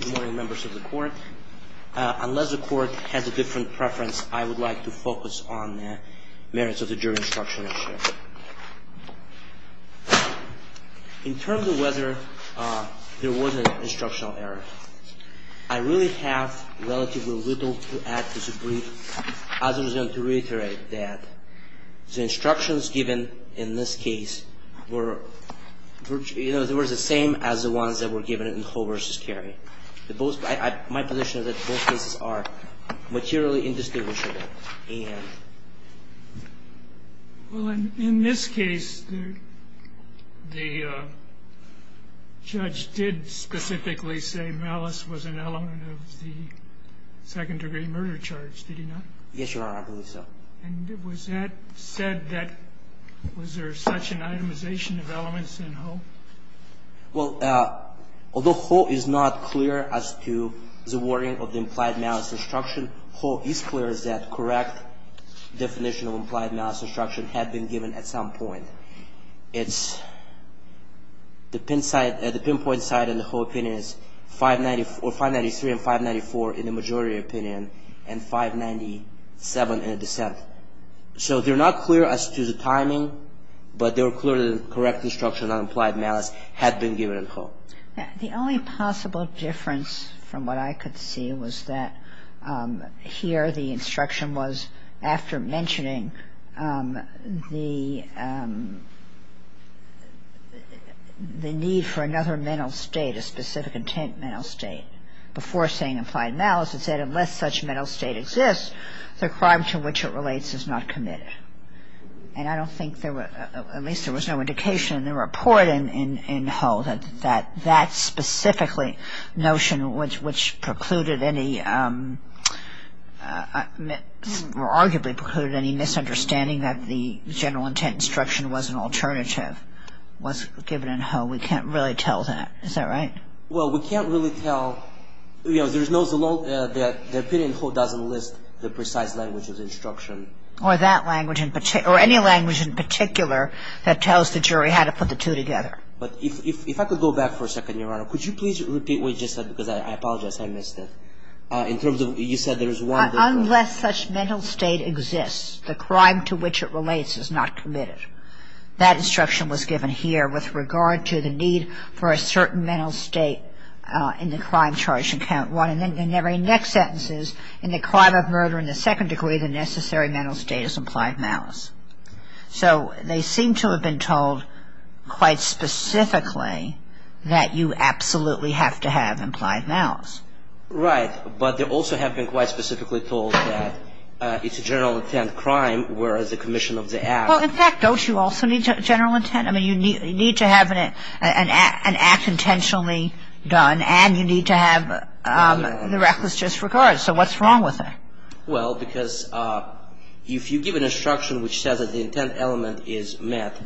Good morning members of the court. Unless the court has a different preference, I would like to focus on the merits of the jury instruction issue. In terms of whether there was an instructional error, I really have relatively little to add to the brief. I was going to reiterate that the instructions given in this case were the same as the ones that were given in Hull v. Carey. My position is that both cases are materially indistinguishable. In this case, the judge did specifically say malice was an element of the second-degree murder charge, did he not? Yes, Your Honor, I believe so. Was that said that there was such an itemization of elements in Hull? Well, although Hull is not clear as to the wording of the implied malice instruction, Hull is clear that the correct definition of implied malice instruction had been given at some point. The pinpoint side in the Hull opinion is 593 and 594 in the majority opinion, and 597 in the dissent. So they're not clear as to the timing, but they were clear that the correct instruction on implied malice had been given in Hull. The only possible difference from what I could see was that here the instruction was after mentioning the need for another mental state, a specific intent mental state, before saying implied malice, it said unless such mental state exists, the crime to which it relates is not committed. And I don't think there were, at least there was no indication in the report in Hull that that specifically notion, which precluded any, or arguably precluded any misunderstanding that the general intent instruction was an alternative, was given in Hull. We can't really tell that. Is that right? Well, we can't really tell, you know, there's no, the opinion in Hull doesn't list the precise language of the instruction. Or that language in particular, or any language in particular that tells the jury how to put the two together. But if I could go back for a second, Your Honor, could you please repeat what you just said, because I apologize, I missed it. In terms of, you said there was one. Unless such mental state exists, the crime to which it relates is not committed. That instruction was given here with regard to the need for a certain mental state in the crime charge in count one. And then in the very next sentences, in the crime of murder in the second degree, the necessary mental state is implied malice. So they seem to have been told quite specifically that you absolutely have to have implied malice. Right, but they also have been quite specifically told that it's a general intent crime, whereas the commission of the act. Well, in fact, don't you also need general intent? I mean, you need to have an act intentionally done, and you need to have the reckless disregard. So what's wrong with that? Well, because if you give an instruction which says that the intent element is met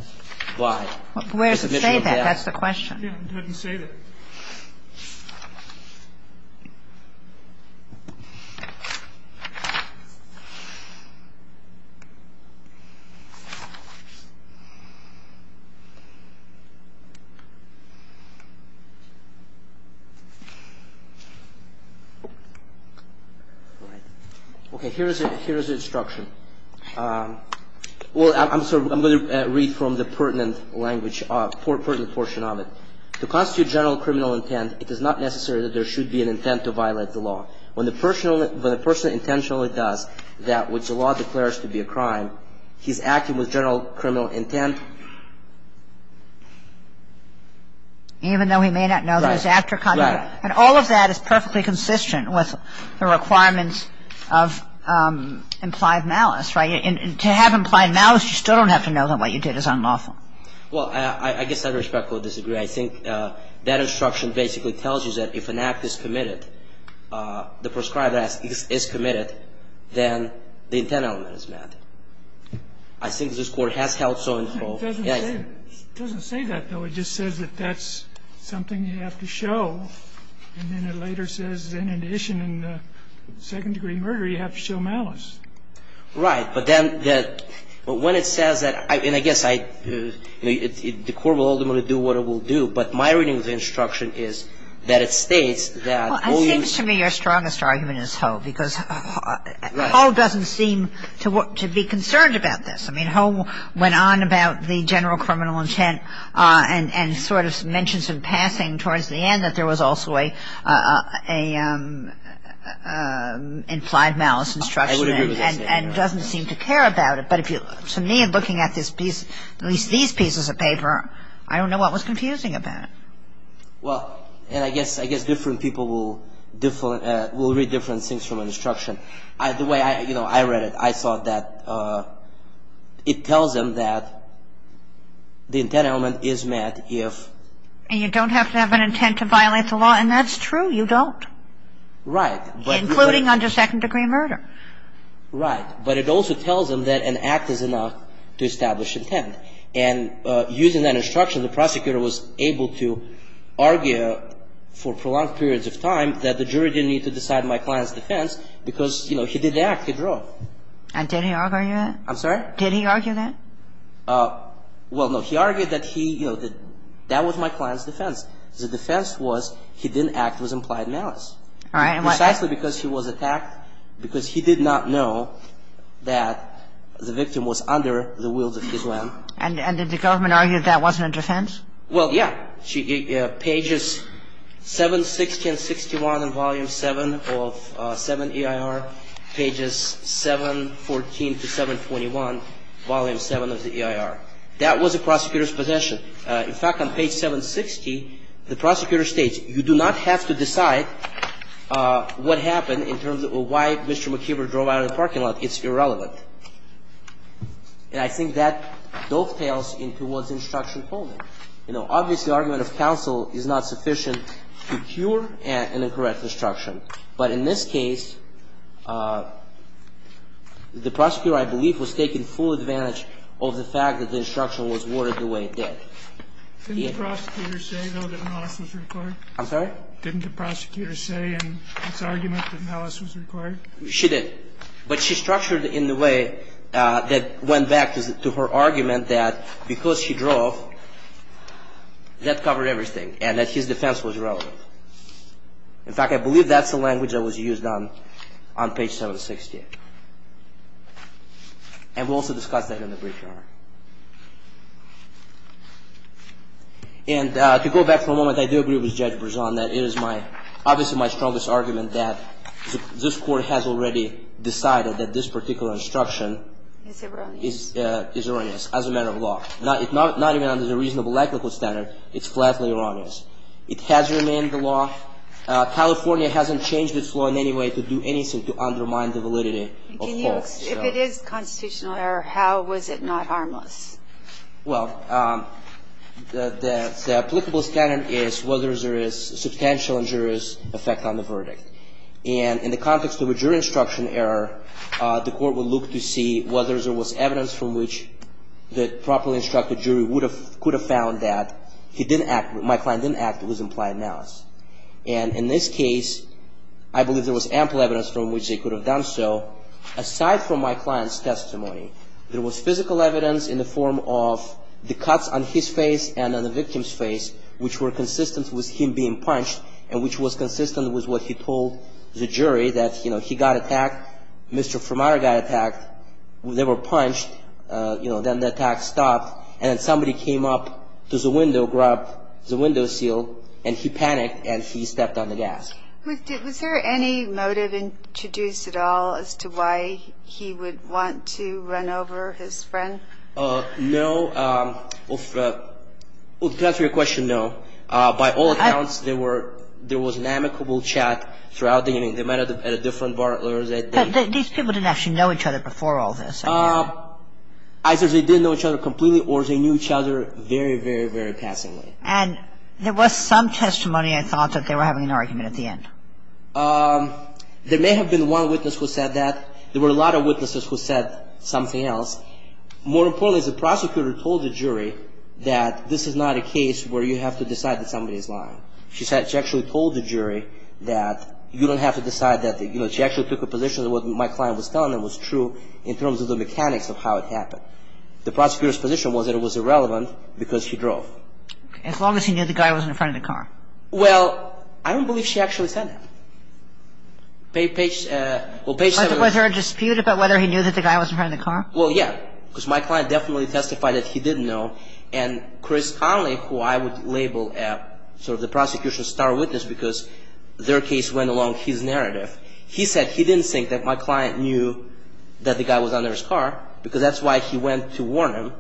by the commission of the act. Where does it say that? That's the question. It doesn't say that. OK, here is it. I'm sorry. I'm going to read from the pertinent language, pertinent portion of it. To constitute general criminal intent, it is not necessary that there should be an intent to violate the law. When the person intentionally does that which the law declares to be a crime, he's acting with general criminal intent. Even though he may not know that he's acting. Right. And all of that is perfectly consistent with the requirements of implied malice, right? And to have implied malice, you still don't have to know that what you did is unlawful. Well, I guess I respectfully disagree. I think that instruction basically tells you that if an act is committed, the prescribed act is committed, then the intent element is met. I think this Court has held so in Ho. It doesn't say that, though. It just says that that's something you have to show. And then it later says, in addition, in the second-degree murder, you have to show malice. Right. But then when it says that, and I guess the Court will ultimately do what it will do, but my reading of the instruction is that it states that Well, it seems to me your strongest argument is Ho, because Ho doesn't seem to be concerned about this. I mean, Ho went on about the general criminal intent and sort of mentions in passing towards the end that there was also an implied malice instruction. I would agree with that. And doesn't seem to care about it. But to me, looking at this piece, at least these pieces of paper, I don't know what was confusing about it. Well, and I guess different people will read different things from an instruction. The way I read it, I thought that it tells them that the intent element is met if And you don't have to have an intent to violate the law, and that's true. You don't. Right. Including under second-degree murder. Right. But it also tells them that an act is enough to establish intent. And using that instruction, the prosecutor was able to argue for prolonged periods of time that the jury didn't need to decide my client's defense because, you know, he didn't act. He drove. And did he argue that? I'm sorry? Did he argue that? Well, no. He argued that he, you know, that that was my client's defense. The defense was he didn't act with implied malice. All right. And did the government argue that that wasn't a defense? Well, yeah. Pages 760 and 61 in Volume 7 of VII EIR. Pages 714 to 721, Volume 7 of the EIR. That was the prosecutor's position. In fact, on page 760, the prosecutor states, you do not have to decide my client's defense. What happened in terms of why Mr. McKeever drove out of the parking lot, it's irrelevant. And I think that dovetails into what the instruction told him. You know, obviously, the argument of counsel is not sufficient to cure an incorrect instruction. But in this case, the prosecutor, I believe, was taking full advantage of the fact that the instruction was worded the way it did. Didn't the prosecutor say, though, that an office was required? I'm sorry? Didn't the prosecutor say in his argument that malice was required? She did. But she structured it in the way that went back to her argument that because she drove, that covered everything. And that his defense was relevant. In fact, I believe that's the language that was used on page 760. And we also discussed that in the brief. And to go back for a moment, I do agree with Judge Brezon that it is my, obviously, my strongest argument that this Court has already decided that this particular instruction is erroneous as a matter of law. Not even under the reasonable ethical standard, it's flatly erroneous. It has remained the law. California hasn't changed its law in any way to do anything to undermine the validity of folks. If it is constitutional error, how was it not harmless? Well, the applicable standard is whether there is substantial injurious effect on the verdict. And in the context of a jury instruction error, the Court would look to see whether there was evidence from which the properly instructed jury would have, could have found that he didn't act, my client didn't act, it was implied malice. And in this case, I believe there was ample evidence from which they could have done so. Aside from my client's testimony, there was physical evidence in the form of the cuts on his face and on the victim's face, which were consistent with him being punched, and which was consistent with what he told the jury that, you know, he got attacked, Mr. Fermata got attacked, they were punched, you know, then the attack stopped, and then somebody came up to the window, grabbed the window seal, and he panicked, and he stepped on the gas. Was there any motive introduced at all as to why he would want to run over his friend? No. To answer your question, no. By all accounts, there was an amicable chat throughout the meeting. They met at a different bar. These people didn't actually know each other before all this? Either they didn't know each other completely or they knew each other very, very, very passingly. And there was some testimony I thought that they were having an argument at the end. There may have been one witness who said that. There were a lot of witnesses who said something else. More importantly, the prosecutor told the jury that this is not a case where you have to decide that somebody is lying. She actually told the jury that you don't have to decide that. She actually took a position that what my client was telling them was true in terms of the mechanics of how it happened. The prosecutor's position was that it was irrelevant because he drove. As long as he knew the guy was in front of the car? Well, I don't believe she actually said that. Was there a dispute about whether he knew that the guy was in front of the car? Well, yeah, because my client definitely testified that he did know, and Chris Conley, who I would label sort of the prosecution's star witness because their case went along his narrative, he said he didn't think that my client knew that the guy was under his car because that's why he went to warn him.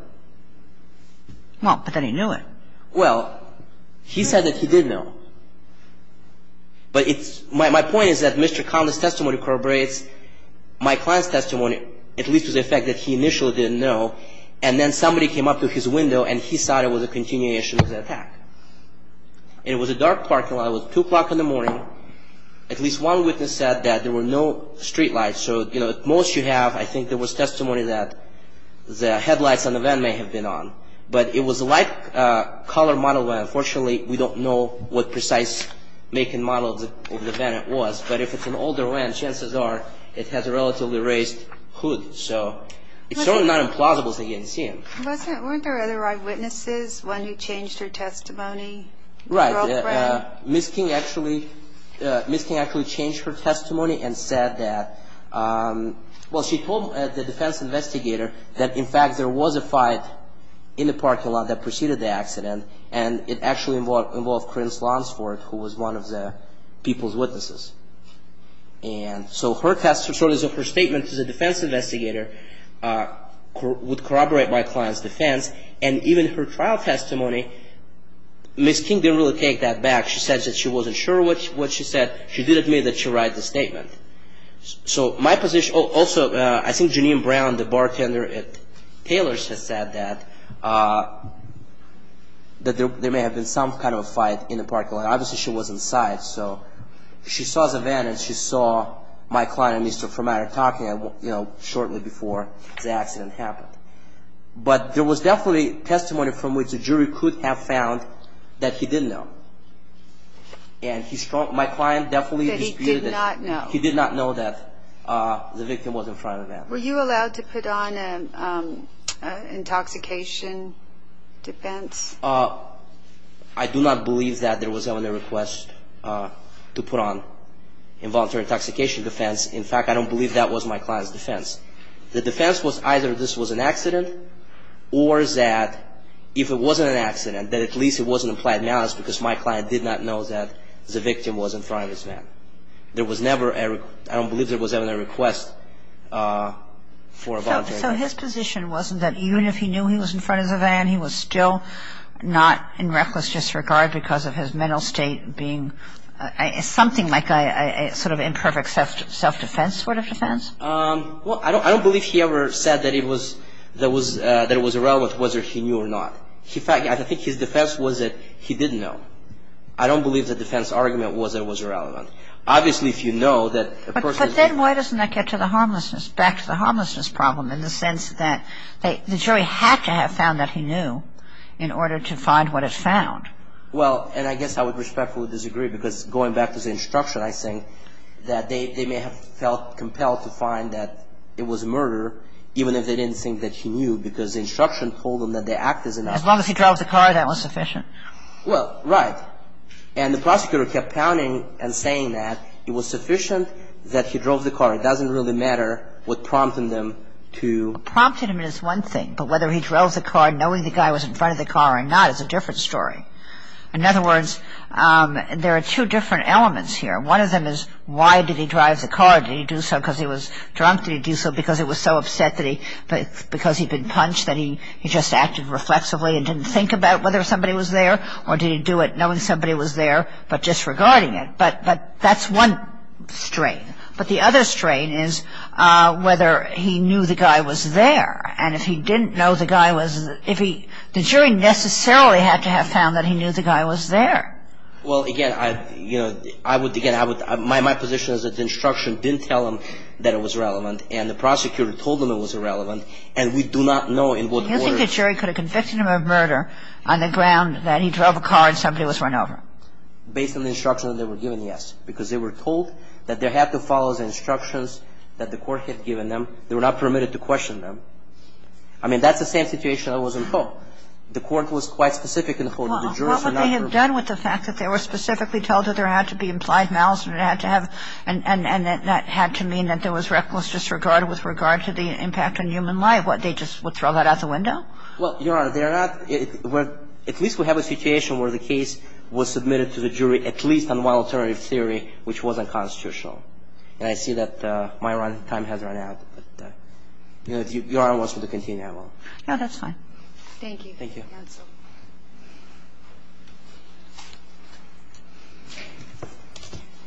Well, but then he knew it. Well, he said that he did know. But it's my point is that Mr. Conley's testimony corroborates my client's testimony, at least to the effect that he initially didn't know, and then somebody came up to his window and he saw there was a continuation of the attack. It was a dark parking lot. It was 2 o'clock in the morning. At least one witness said that there were no street lights, so the most you have I think there was testimony that the headlights on the van may have been on, but it was a light-colored model van. Unfortunately, we don't know what precise make and model of the van it was, but if it's an older van, chances are it has a relatively raised hood, so it's certainly not implausible that he didn't see him. Weren't there other eyewitnesses, one who changed her testimony? Right. Ms. King actually changed her testimony and said that, well, she told the defense investigator that, in fact, there was a fight in the parking lot that preceded the accident, and it actually involved Corinne Slonsford, who was one of the people's witnesses. So her statement to the defense investigator would corroborate my client's defense, and even her trial testimony, Ms. King didn't really take that back. She said that she wasn't sure what she said. She did admit that she read the statement. Also, I think Janine Brown, the bartender at Taylor's, has said that there may have been some kind of a fight in the parking lot. Obviously, she was inside, so she saw the van, and she saw my client and Mr. Formatter talking shortly before the accident happened. But there was definitely testimony from which the jury could have found that he didn't know, and my client definitely disputed that. That he did not know. He did not know that the victim was in front of the van. Were you allowed to put on an intoxication defense? I do not believe that there was ever a request to put on involuntary intoxication defense. In fact, I don't believe that was my client's defense. The defense was either this was an accident, or that if it wasn't an accident, that at least it wasn't implied malice, because my client did not know that the victim was in front of his van. There was never a request. So his position wasn't that even if he knew he was in front of the van, he was still not in reckless disregard because of his mental state being, something like a sort of imperfect self-defense sort of defense? Well, I don't believe he ever said that it was irrelevant whether he knew or not. In fact, I think his defense was that he didn't know. I don't believe the defense argument was that it was irrelevant. Obviously, if you know that a person is... But then why doesn't that get to the harmlessness, back to the harmlessness problem, in the sense that the jury had to have found that he knew in order to find what it found? Well, and I guess I would respectfully disagree because going back to the instruction, I think that they may have felt compelled to find that it was murder, even if they didn't think that he knew because the instruction told them that the act is an act. As long as he drove the car, that was sufficient? Well, right. And the prosecutor kept pounding and saying that it was sufficient that he drove the car. It doesn't really matter what prompted him to... Prompted him is one thing, but whether he drove the car, knowing the guy was in front of the car or not is a different story. In other words, there are two different elements here. One of them is why did he drive the car? Did he do so because he was drunk? Did he do so because he was so upset that he... because he'd been punched that he just acted reflexively and didn't think about whether somebody was there? Or did he do it knowing somebody was there but disregarding it? But that's one strain. But the other strain is whether he knew the guy was there. And if he didn't know the guy was... the jury necessarily had to have found that he knew the guy was there. Well, again, I would... my position is that the instruction didn't tell him that it was relevant and the prosecutor told him it was irrelevant and we do not know in what order... in what order he was convicted of murder on the ground that he drove a car and somebody was run over. Based on the instruction that they were given, yes. Because they were told that they had to follow the instructions that the court had given them. They were not permitted to question them. I mean, that's the same situation that was in Hope. The court was quite specific in Hope. The jurors were not... Well, what would they have done with the fact that they were specifically told that there had to be implied malice and it had to have... and that had to mean that there was reckless disregard with regard to the impact on human life? What, they just would throw that out the window? Well, Your Honor, they are not... at least we have a situation where the case was submitted to the jury at least on one alternative theory which wasn't constitutional. And I see that my time has run out. But if Your Honor wants me to continue, I will. No, that's fine. Thank you. Thank you.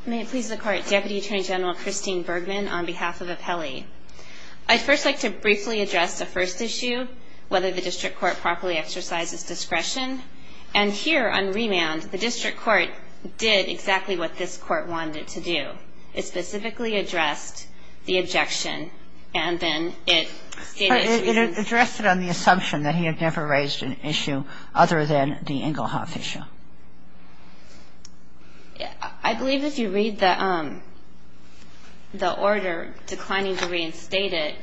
May it please the Court. Deputy Attorney General Christine Bergman on behalf of Apelli. I'd first like to briefly address the first issue, whether the district court properly exercises discretion. And here on remand, the district court did exactly what this court wanted to do. It specifically addressed the objection and then it stated... It addressed it on the assumption that he had never raised an issue other than the Engelhoff issue. I believe if you read the order declining to reinstate it,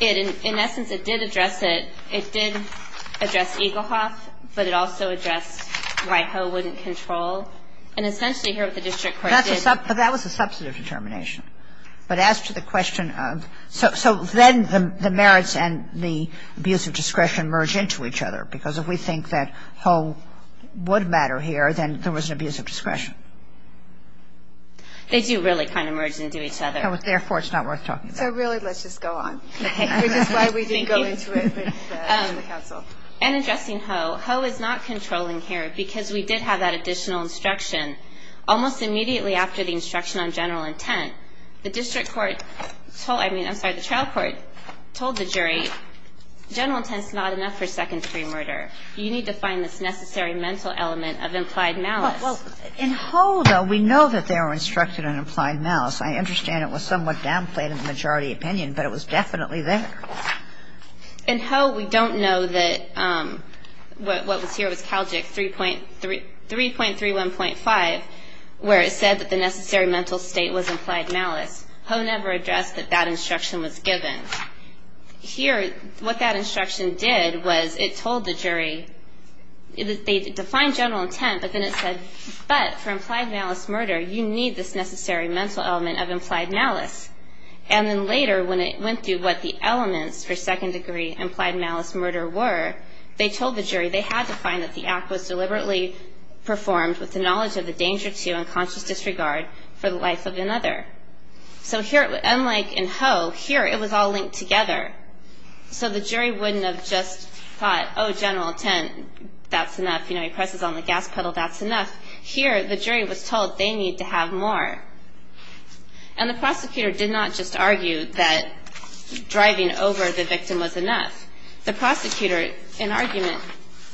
in essence it did address it. It did address Engelhoff, but it also addressed why Ho wouldn't control. And essentially here what the district court did... That was a substantive determination. But as to the question of... So then the merits and the abuse of discretion merge into each other because if we think that Ho would matter here, then there was an abuse of discretion. They do really kind of merge into each other. Therefore, it's not worth talking about. So really, let's just go on. Which is why we didn't go into it with the counsel. In addressing Ho, Ho is not controlling here because we did have that additional instruction. Almost immediately after the instruction on general intent, the district court told... I mean, I'm sorry, the trial court told the jury, General intent is not enough for second-degree murder. You need to find this necessary mental element of implied malice. Well, in Ho, though, we know that they were instructed on implied malice. I understand it was somewhat downplayed in the majority opinion, but it was definitely there. In Ho, we don't know that what was here was Calgic 3.31.5, where it said that the necessary mental state was implied malice. Ho never addressed that that instruction was given. Here, what that instruction did was it told the jury... They defined general intent, but then it said, But for implied malice murder, you need this necessary mental element of implied malice. And then later, when it went through what the elements for second-degree implied malice murder were, they told the jury they had to find that the act was deliberately performed with the knowledge of the danger to and conscious disregard for the life of another. So here, unlike in Ho, here it was all linked together. So the jury wouldn't have just thought, Oh, general intent, that's enough. You know, he presses on the gas pedal, that's enough. Here, the jury was told they need to have more. And the prosecutor did not just argue that driving over the victim was enough. The prosecutor, in argument,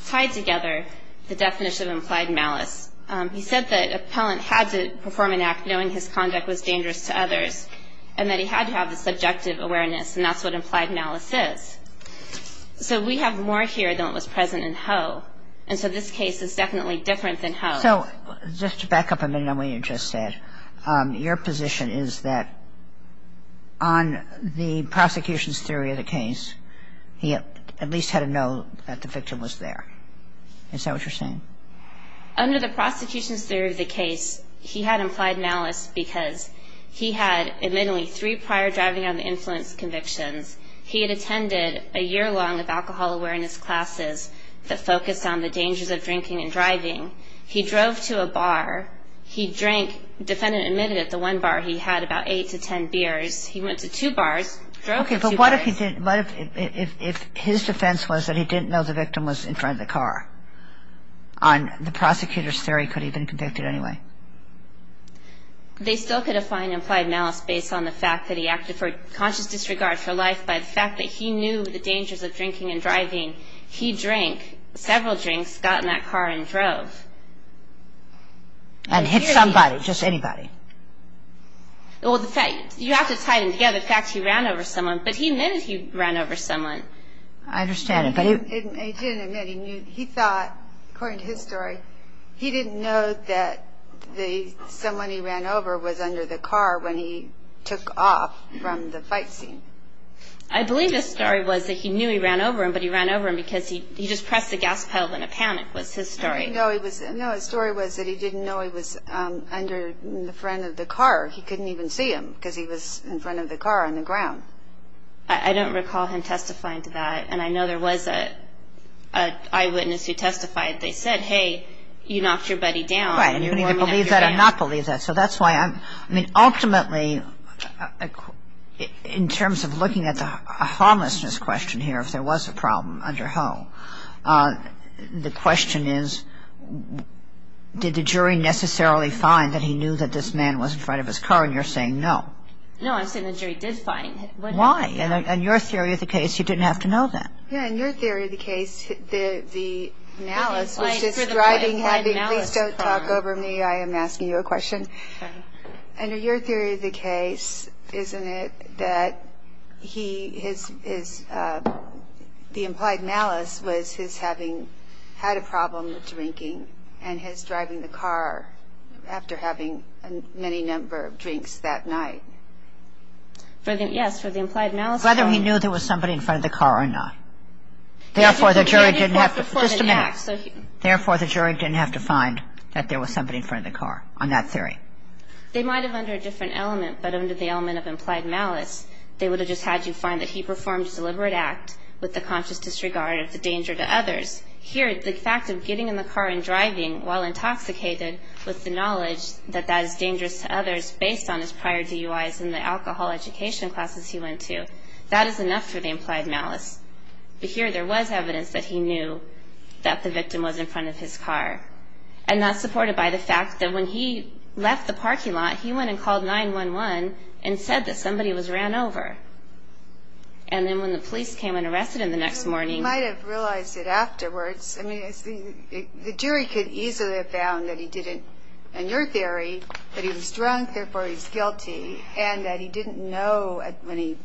tied together the definition of implied malice. He said that an appellant had to perform an act knowing his conduct was dangerous to others and that he had to have the subjective awareness, and that's what implied malice is. So we have more here than what was present in Ho. And so this case is definitely different than Ho. So just to back up a minute on what you just said, your position is that on the prosecution's theory of the case, he at least had to know that the victim was there. Is that what you're saying? Under the prosecution's theory of the case, he had implied malice because he had admittedly three prior driving under influence convictions. He had attended a year-long of alcohol awareness classes that focused on the dangers of drinking and driving. He drove to a bar. He drank, the defendant admitted it, the one bar he had, about eight to ten beers. He went to two bars, drove to two bars. Okay, but what if his defense was that he didn't know the victim was in front of the car? On the prosecutor's theory, could he have been convicted anyway? They still could have found implied malice based on the fact that he acted for conscious disregard for life by the fact that he knew the dangers of drinking and driving. He drank several drinks, got in that car, and drove. And hit somebody, just anybody? Well, you have to tie them together. In fact, he ran over someone, but he admitted he ran over someone. I understand, but he didn't admit. He thought, according to his story, he didn't know that someone he ran over was under the car when he took off from the fight scene. I believe his story was that he knew he ran over him, but he ran over him because he just pressed the gas pedal in a panic was his story. No, his story was that he didn't know he was under the front of the car. He couldn't even see him because he was in front of the car on the ground. I don't recall him testifying to that. And I know there was an eyewitness who testified. They said, hey, you knocked your buddy down. Right, and you need to believe that or not believe that. So that's why I'm, I mean, ultimately, in terms of looking at the homelessness question here, if there was a problem under how, the question is, did the jury necessarily find that he knew that this man was in front of his car? And you're saying no. No, I'm saying the jury did find. Why? In your theory of the case, you didn't have to know that. Yeah, in your theory of the case, the analyst was just driving happy. Please don't talk over me. I am asking you a question. Under your theory of the case, isn't it that he, his, the implied malice was his having had a problem with drinking and his driving the car after having a many number of drinks that night? For the, yes, for the implied malice. Whether he knew there was somebody in front of the car or not. They might have under a different element, but under the element of implied malice, they would have just had you find that he performed a deliberate act with the conscious disregard of the danger to others. Here, the fact of getting in the car and driving while intoxicated with the knowledge that that is dangerous to others, based on his prior DUIs and the alcohol education classes he went to, that is enough for the implied malice. But here there was evidence that he knew that the victim was in front of his car. And that's supported by the fact that when he left the parking lot, he went and called 911 and said that somebody was ran over. And then when the police came and arrested him the next morning. He might have realized it afterwards. I mean, the jury could easily have found that he didn't, in your theory, that he was drunk, therefore he's guilty, and that he didn't know when he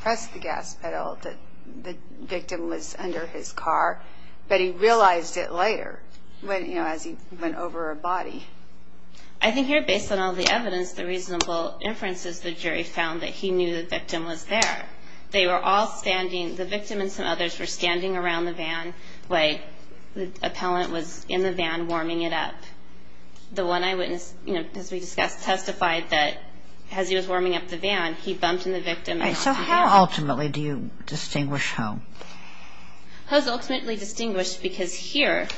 pressed the gas pedal that the victim was under his car. But he realized it later. You know, as he went over a body. I think here, based on all the evidence, the reasonable inference is the jury found that he knew the victim was there. They were all standing, the victim and some others were standing around the van like the appellant was in the van warming it up. The one eyewitness, you know, as we discussed, testified that as he was warming up the van, he bumped into the victim. So how ultimately do you distinguish Ho? Ho's ultimately distinguished because here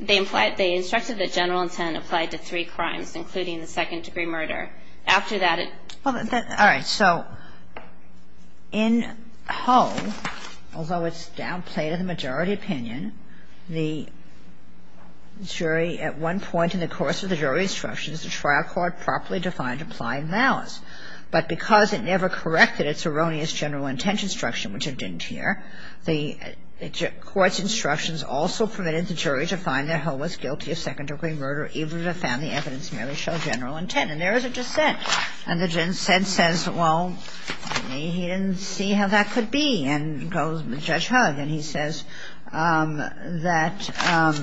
they implied, they instructed that general intent applied to three crimes, including the second-degree murder. After that it. Well, all right. So in Ho, although it's downplayed in the majority opinion, the jury at one point in the course of the jury instructions, the trial court properly defined applying malice. But because it never corrected its erroneous general intent instruction, which it didn't here, the court's instructions also permitted the jury to find that Ho was guilty of second-degree murder even if it found the evidence merely showed general intent. And there is a dissent. And the dissent says, well, he didn't see how that could be. And goes with Judge Ho. And he says that,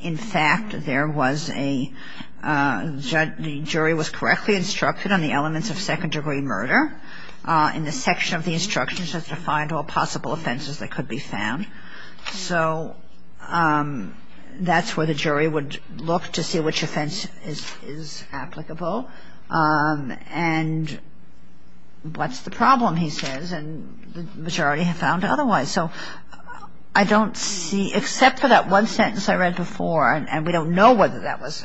in fact, there was a, the jury was correctly instructed on the elements of second-degree murder in the section of the instructions as to find all possible offenses that could be found. So that's where the jury would look to see which offense is applicable. And what's the problem, he says, and the majority have found otherwise. So I don't see, except for that one sentence I read before, and we don't know whether that was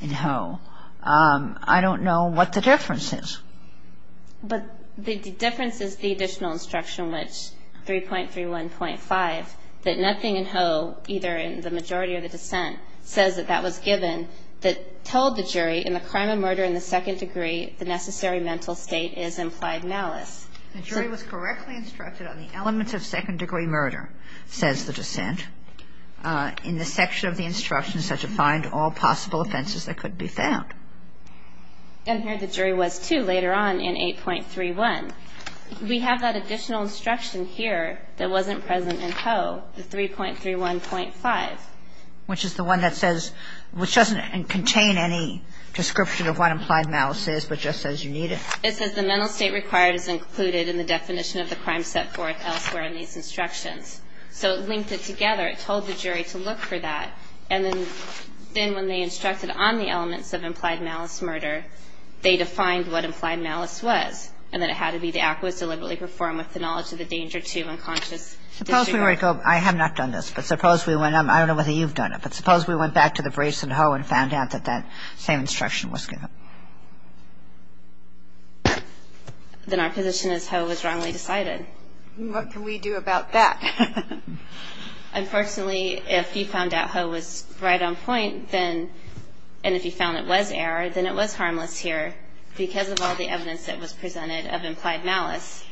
in Ho, I don't know what the difference is. But the difference is the additional instruction, which 3.31.5, that nothing in Ho, either in the majority or the dissent, says that that was given that told the jury in the crime of murder in the second degree, the necessary mental state is implied malice. The jury was correctly instructed on the elements of second-degree murder, says the dissent. In the section of the instructions as to find all possible offenses that could be found. And here the jury was, too, later on in 8.31. We have that additional instruction here that wasn't present in Ho, the 3.31.5. Which is the one that says, which doesn't contain any description of what implied malice is, but just says you need it. It says the mental state required is included in the definition of the crime set forth elsewhere in these instructions. So it linked it together. It told the jury to look for that. And then when they instructed on the elements of implied malice murder, they defined what implied malice was. And that it had to be the act was deliberately performed with the knowledge of the danger to unconscious disregard. I have not done this. But suppose we went, I don't know whether you've done it, but suppose we went back to the briefs in Ho and found out that that same instruction was given. Then our position is Ho was wrongly decided. What can we do about that? Unfortunately, if he found out Ho was right on point, then, and if he found it was error, then it was harmless here. Because of all the evidence that was presented of implied malice,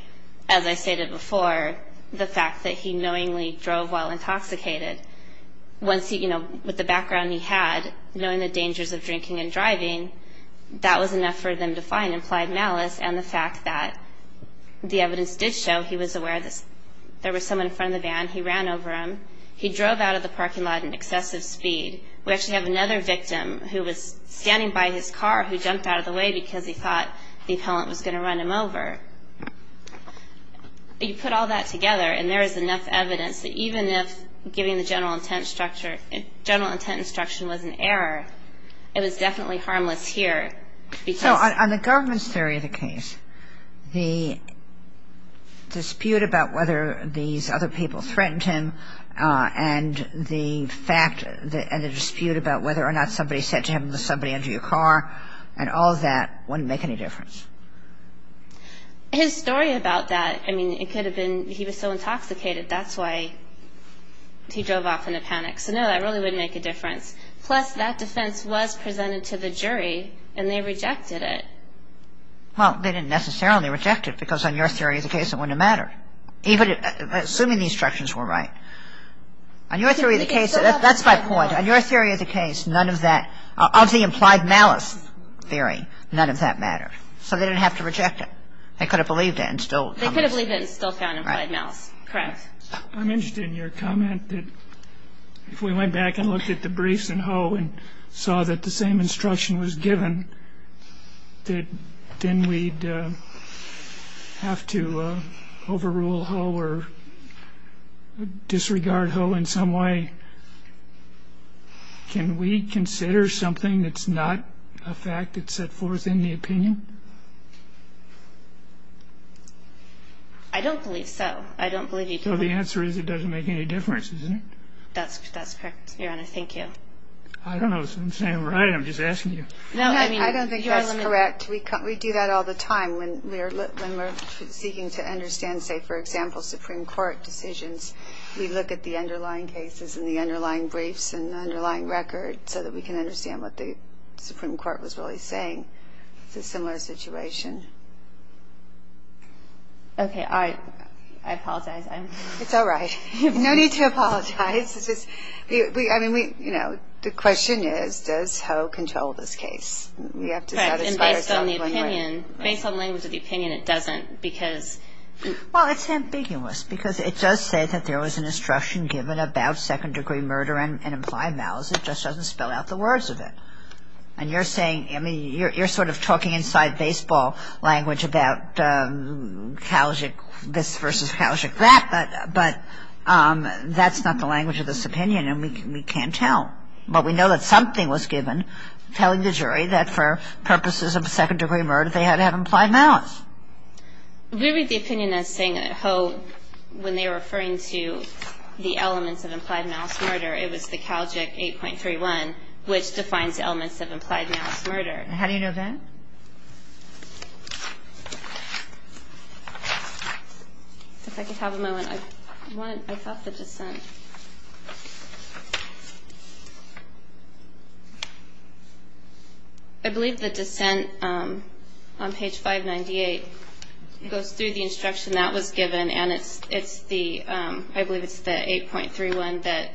as I stated before, the fact that he knowingly drove while intoxicated, once he, you know, with the background he had, knowing the dangers of drinking and driving, that was enough for them to find implied malice and the fact that the evidence did show he was aware that there was someone in front of the van, he ran over him, he drove out of the parking lot in excessive speed. We actually have another victim who was standing by his car who jumped out of the way because he thought the appellant was going to run him over. You put all that together and there is enough evidence that even if giving the general intent instruction was an error, it was definitely harmless here. So on the government's theory of the case, the dispute about whether these other people threatened him and the dispute about whether or not somebody said to him, was somebody under your car and all of that wouldn't make any difference? His story about that, I mean, it could have been he was so intoxicated, that's why he drove off in a panic. So no, that really wouldn't make a difference. So the defense was presented to the jury and they rejected it. Well, they didn't necessarily reject it because on your theory of the case, it wouldn't have mattered, even assuming the instructions were right. On your theory of the case, that's my point. On your theory of the case, none of that, of the implied malice theory, none of that mattered. So they didn't have to reject it. They could have believed it and still found it. They could have believed it and still found implied malice. Correct. I'm interested in your comment that if we went back and looked at the briefs and Ho and saw that the same instruction was given, that then we'd have to overrule Ho or disregard Ho in some way. Can we consider something that's not a fact that's set forth in the opinion? I don't believe so. I don't believe you can. So the answer is it doesn't make any difference, is it? That's correct, Your Honor. Thank you. I don't know if I'm saying it right. I'm just asking you. I don't think that's correct. We do that all the time when we're seeking to understand, say, for example, Supreme Court decisions. We look at the underlying cases and the underlying briefs and the underlying record so that we can understand what the Supreme Court was really saying. It's a similar situation. Okay. I apologize. It's all right. No need to apologize. I mean, you know, the question is, does Ho control this case? Correct. And based on the opinion, based on the language of the opinion, it doesn't. Well, it's ambiguous because it does say that there was an instruction given about second-degree murder and implied malice. It just doesn't spell out the words of it. And you're saying, I mean, you're sort of talking inside baseball. The Supreme Court is not speaking in a baseball language about Calgic this versus Calgic that, but that's not the language of this opinion and we can't tell. But we know that something was given telling the jury that for purposes of second-degree murder they had to have implied malice. We read the opinion as saying that Ho, when they were referring to the elements of implied malice murder, it was the Calgic 8.31, which defines the elements of implied malice murder. How do you know that? If I could have a moment. I thought the dissent. I believe the dissent on page 598 goes through the instruction that was given, and it's the, I believe it's the 8.31 that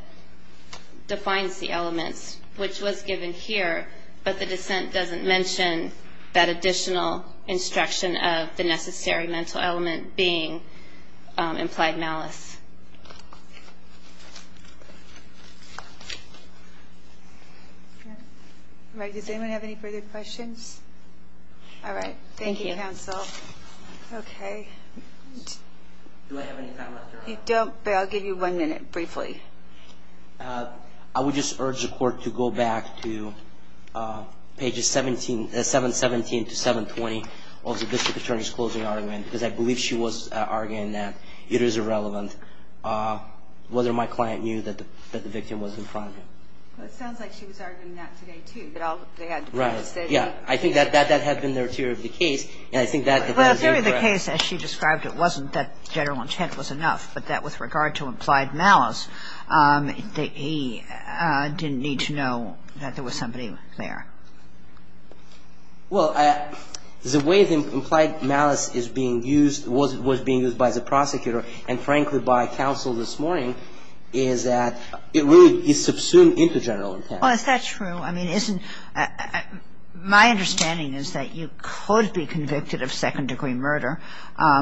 defines the elements, which was given here, but the dissent doesn't mention that additional instruction of the necessary mental element being implied malice. Does anyone have any further questions? Thank you, counsel. Okay. Do I have any time left? You don't, but I'll give you one minute briefly. I would just urge the court to go back to pages 717 to 720 of the district attorney's closing argument because I believe she was arguing that it is irrelevant whether my client knew that the victim was in front of him. Well, it sounds like she was arguing that today too, but they had to preface it. Yeah. I think that had been the interior of the case, and I think that is incorrect. Well, the interior of the case, as she described it, wasn't that general intent was enough, but that with regard to implied malice, he didn't need to know that there was somebody there. Well, the way that implied malice is being used, was being used by the prosecutor and, frankly, by counsel this morning is that it really is subsumed into general intent. Well, is that true? I mean, isn't my understanding is that you could be convicted of second-degree murder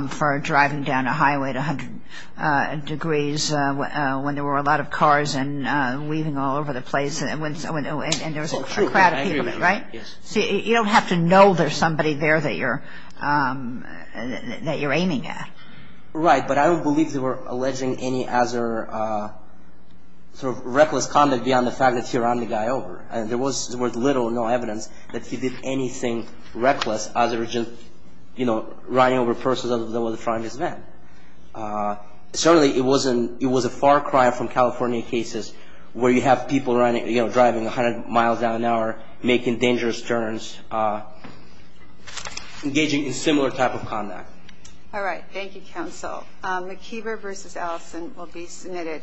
for driving down a highway at 100 degrees when there were a lot of cars and leaving all over the place and there was a crowd of people, right? Yes. See, you don't have to know there's somebody there that you're aiming at. Right, but I don't believe they were alleging any other sort of reckless conduct beyond the fact that he ran the guy over, and there was little or no evidence that he did anything reckless other than, you know, running over a person that was in front of his van. Certainly, it was a far cry from California cases where you have people running, you know, driving 100 miles an hour, making dangerous turns, engaging in similar type of conduct. All right. Thank you, counsel. McKeever v. Allison will be submitted.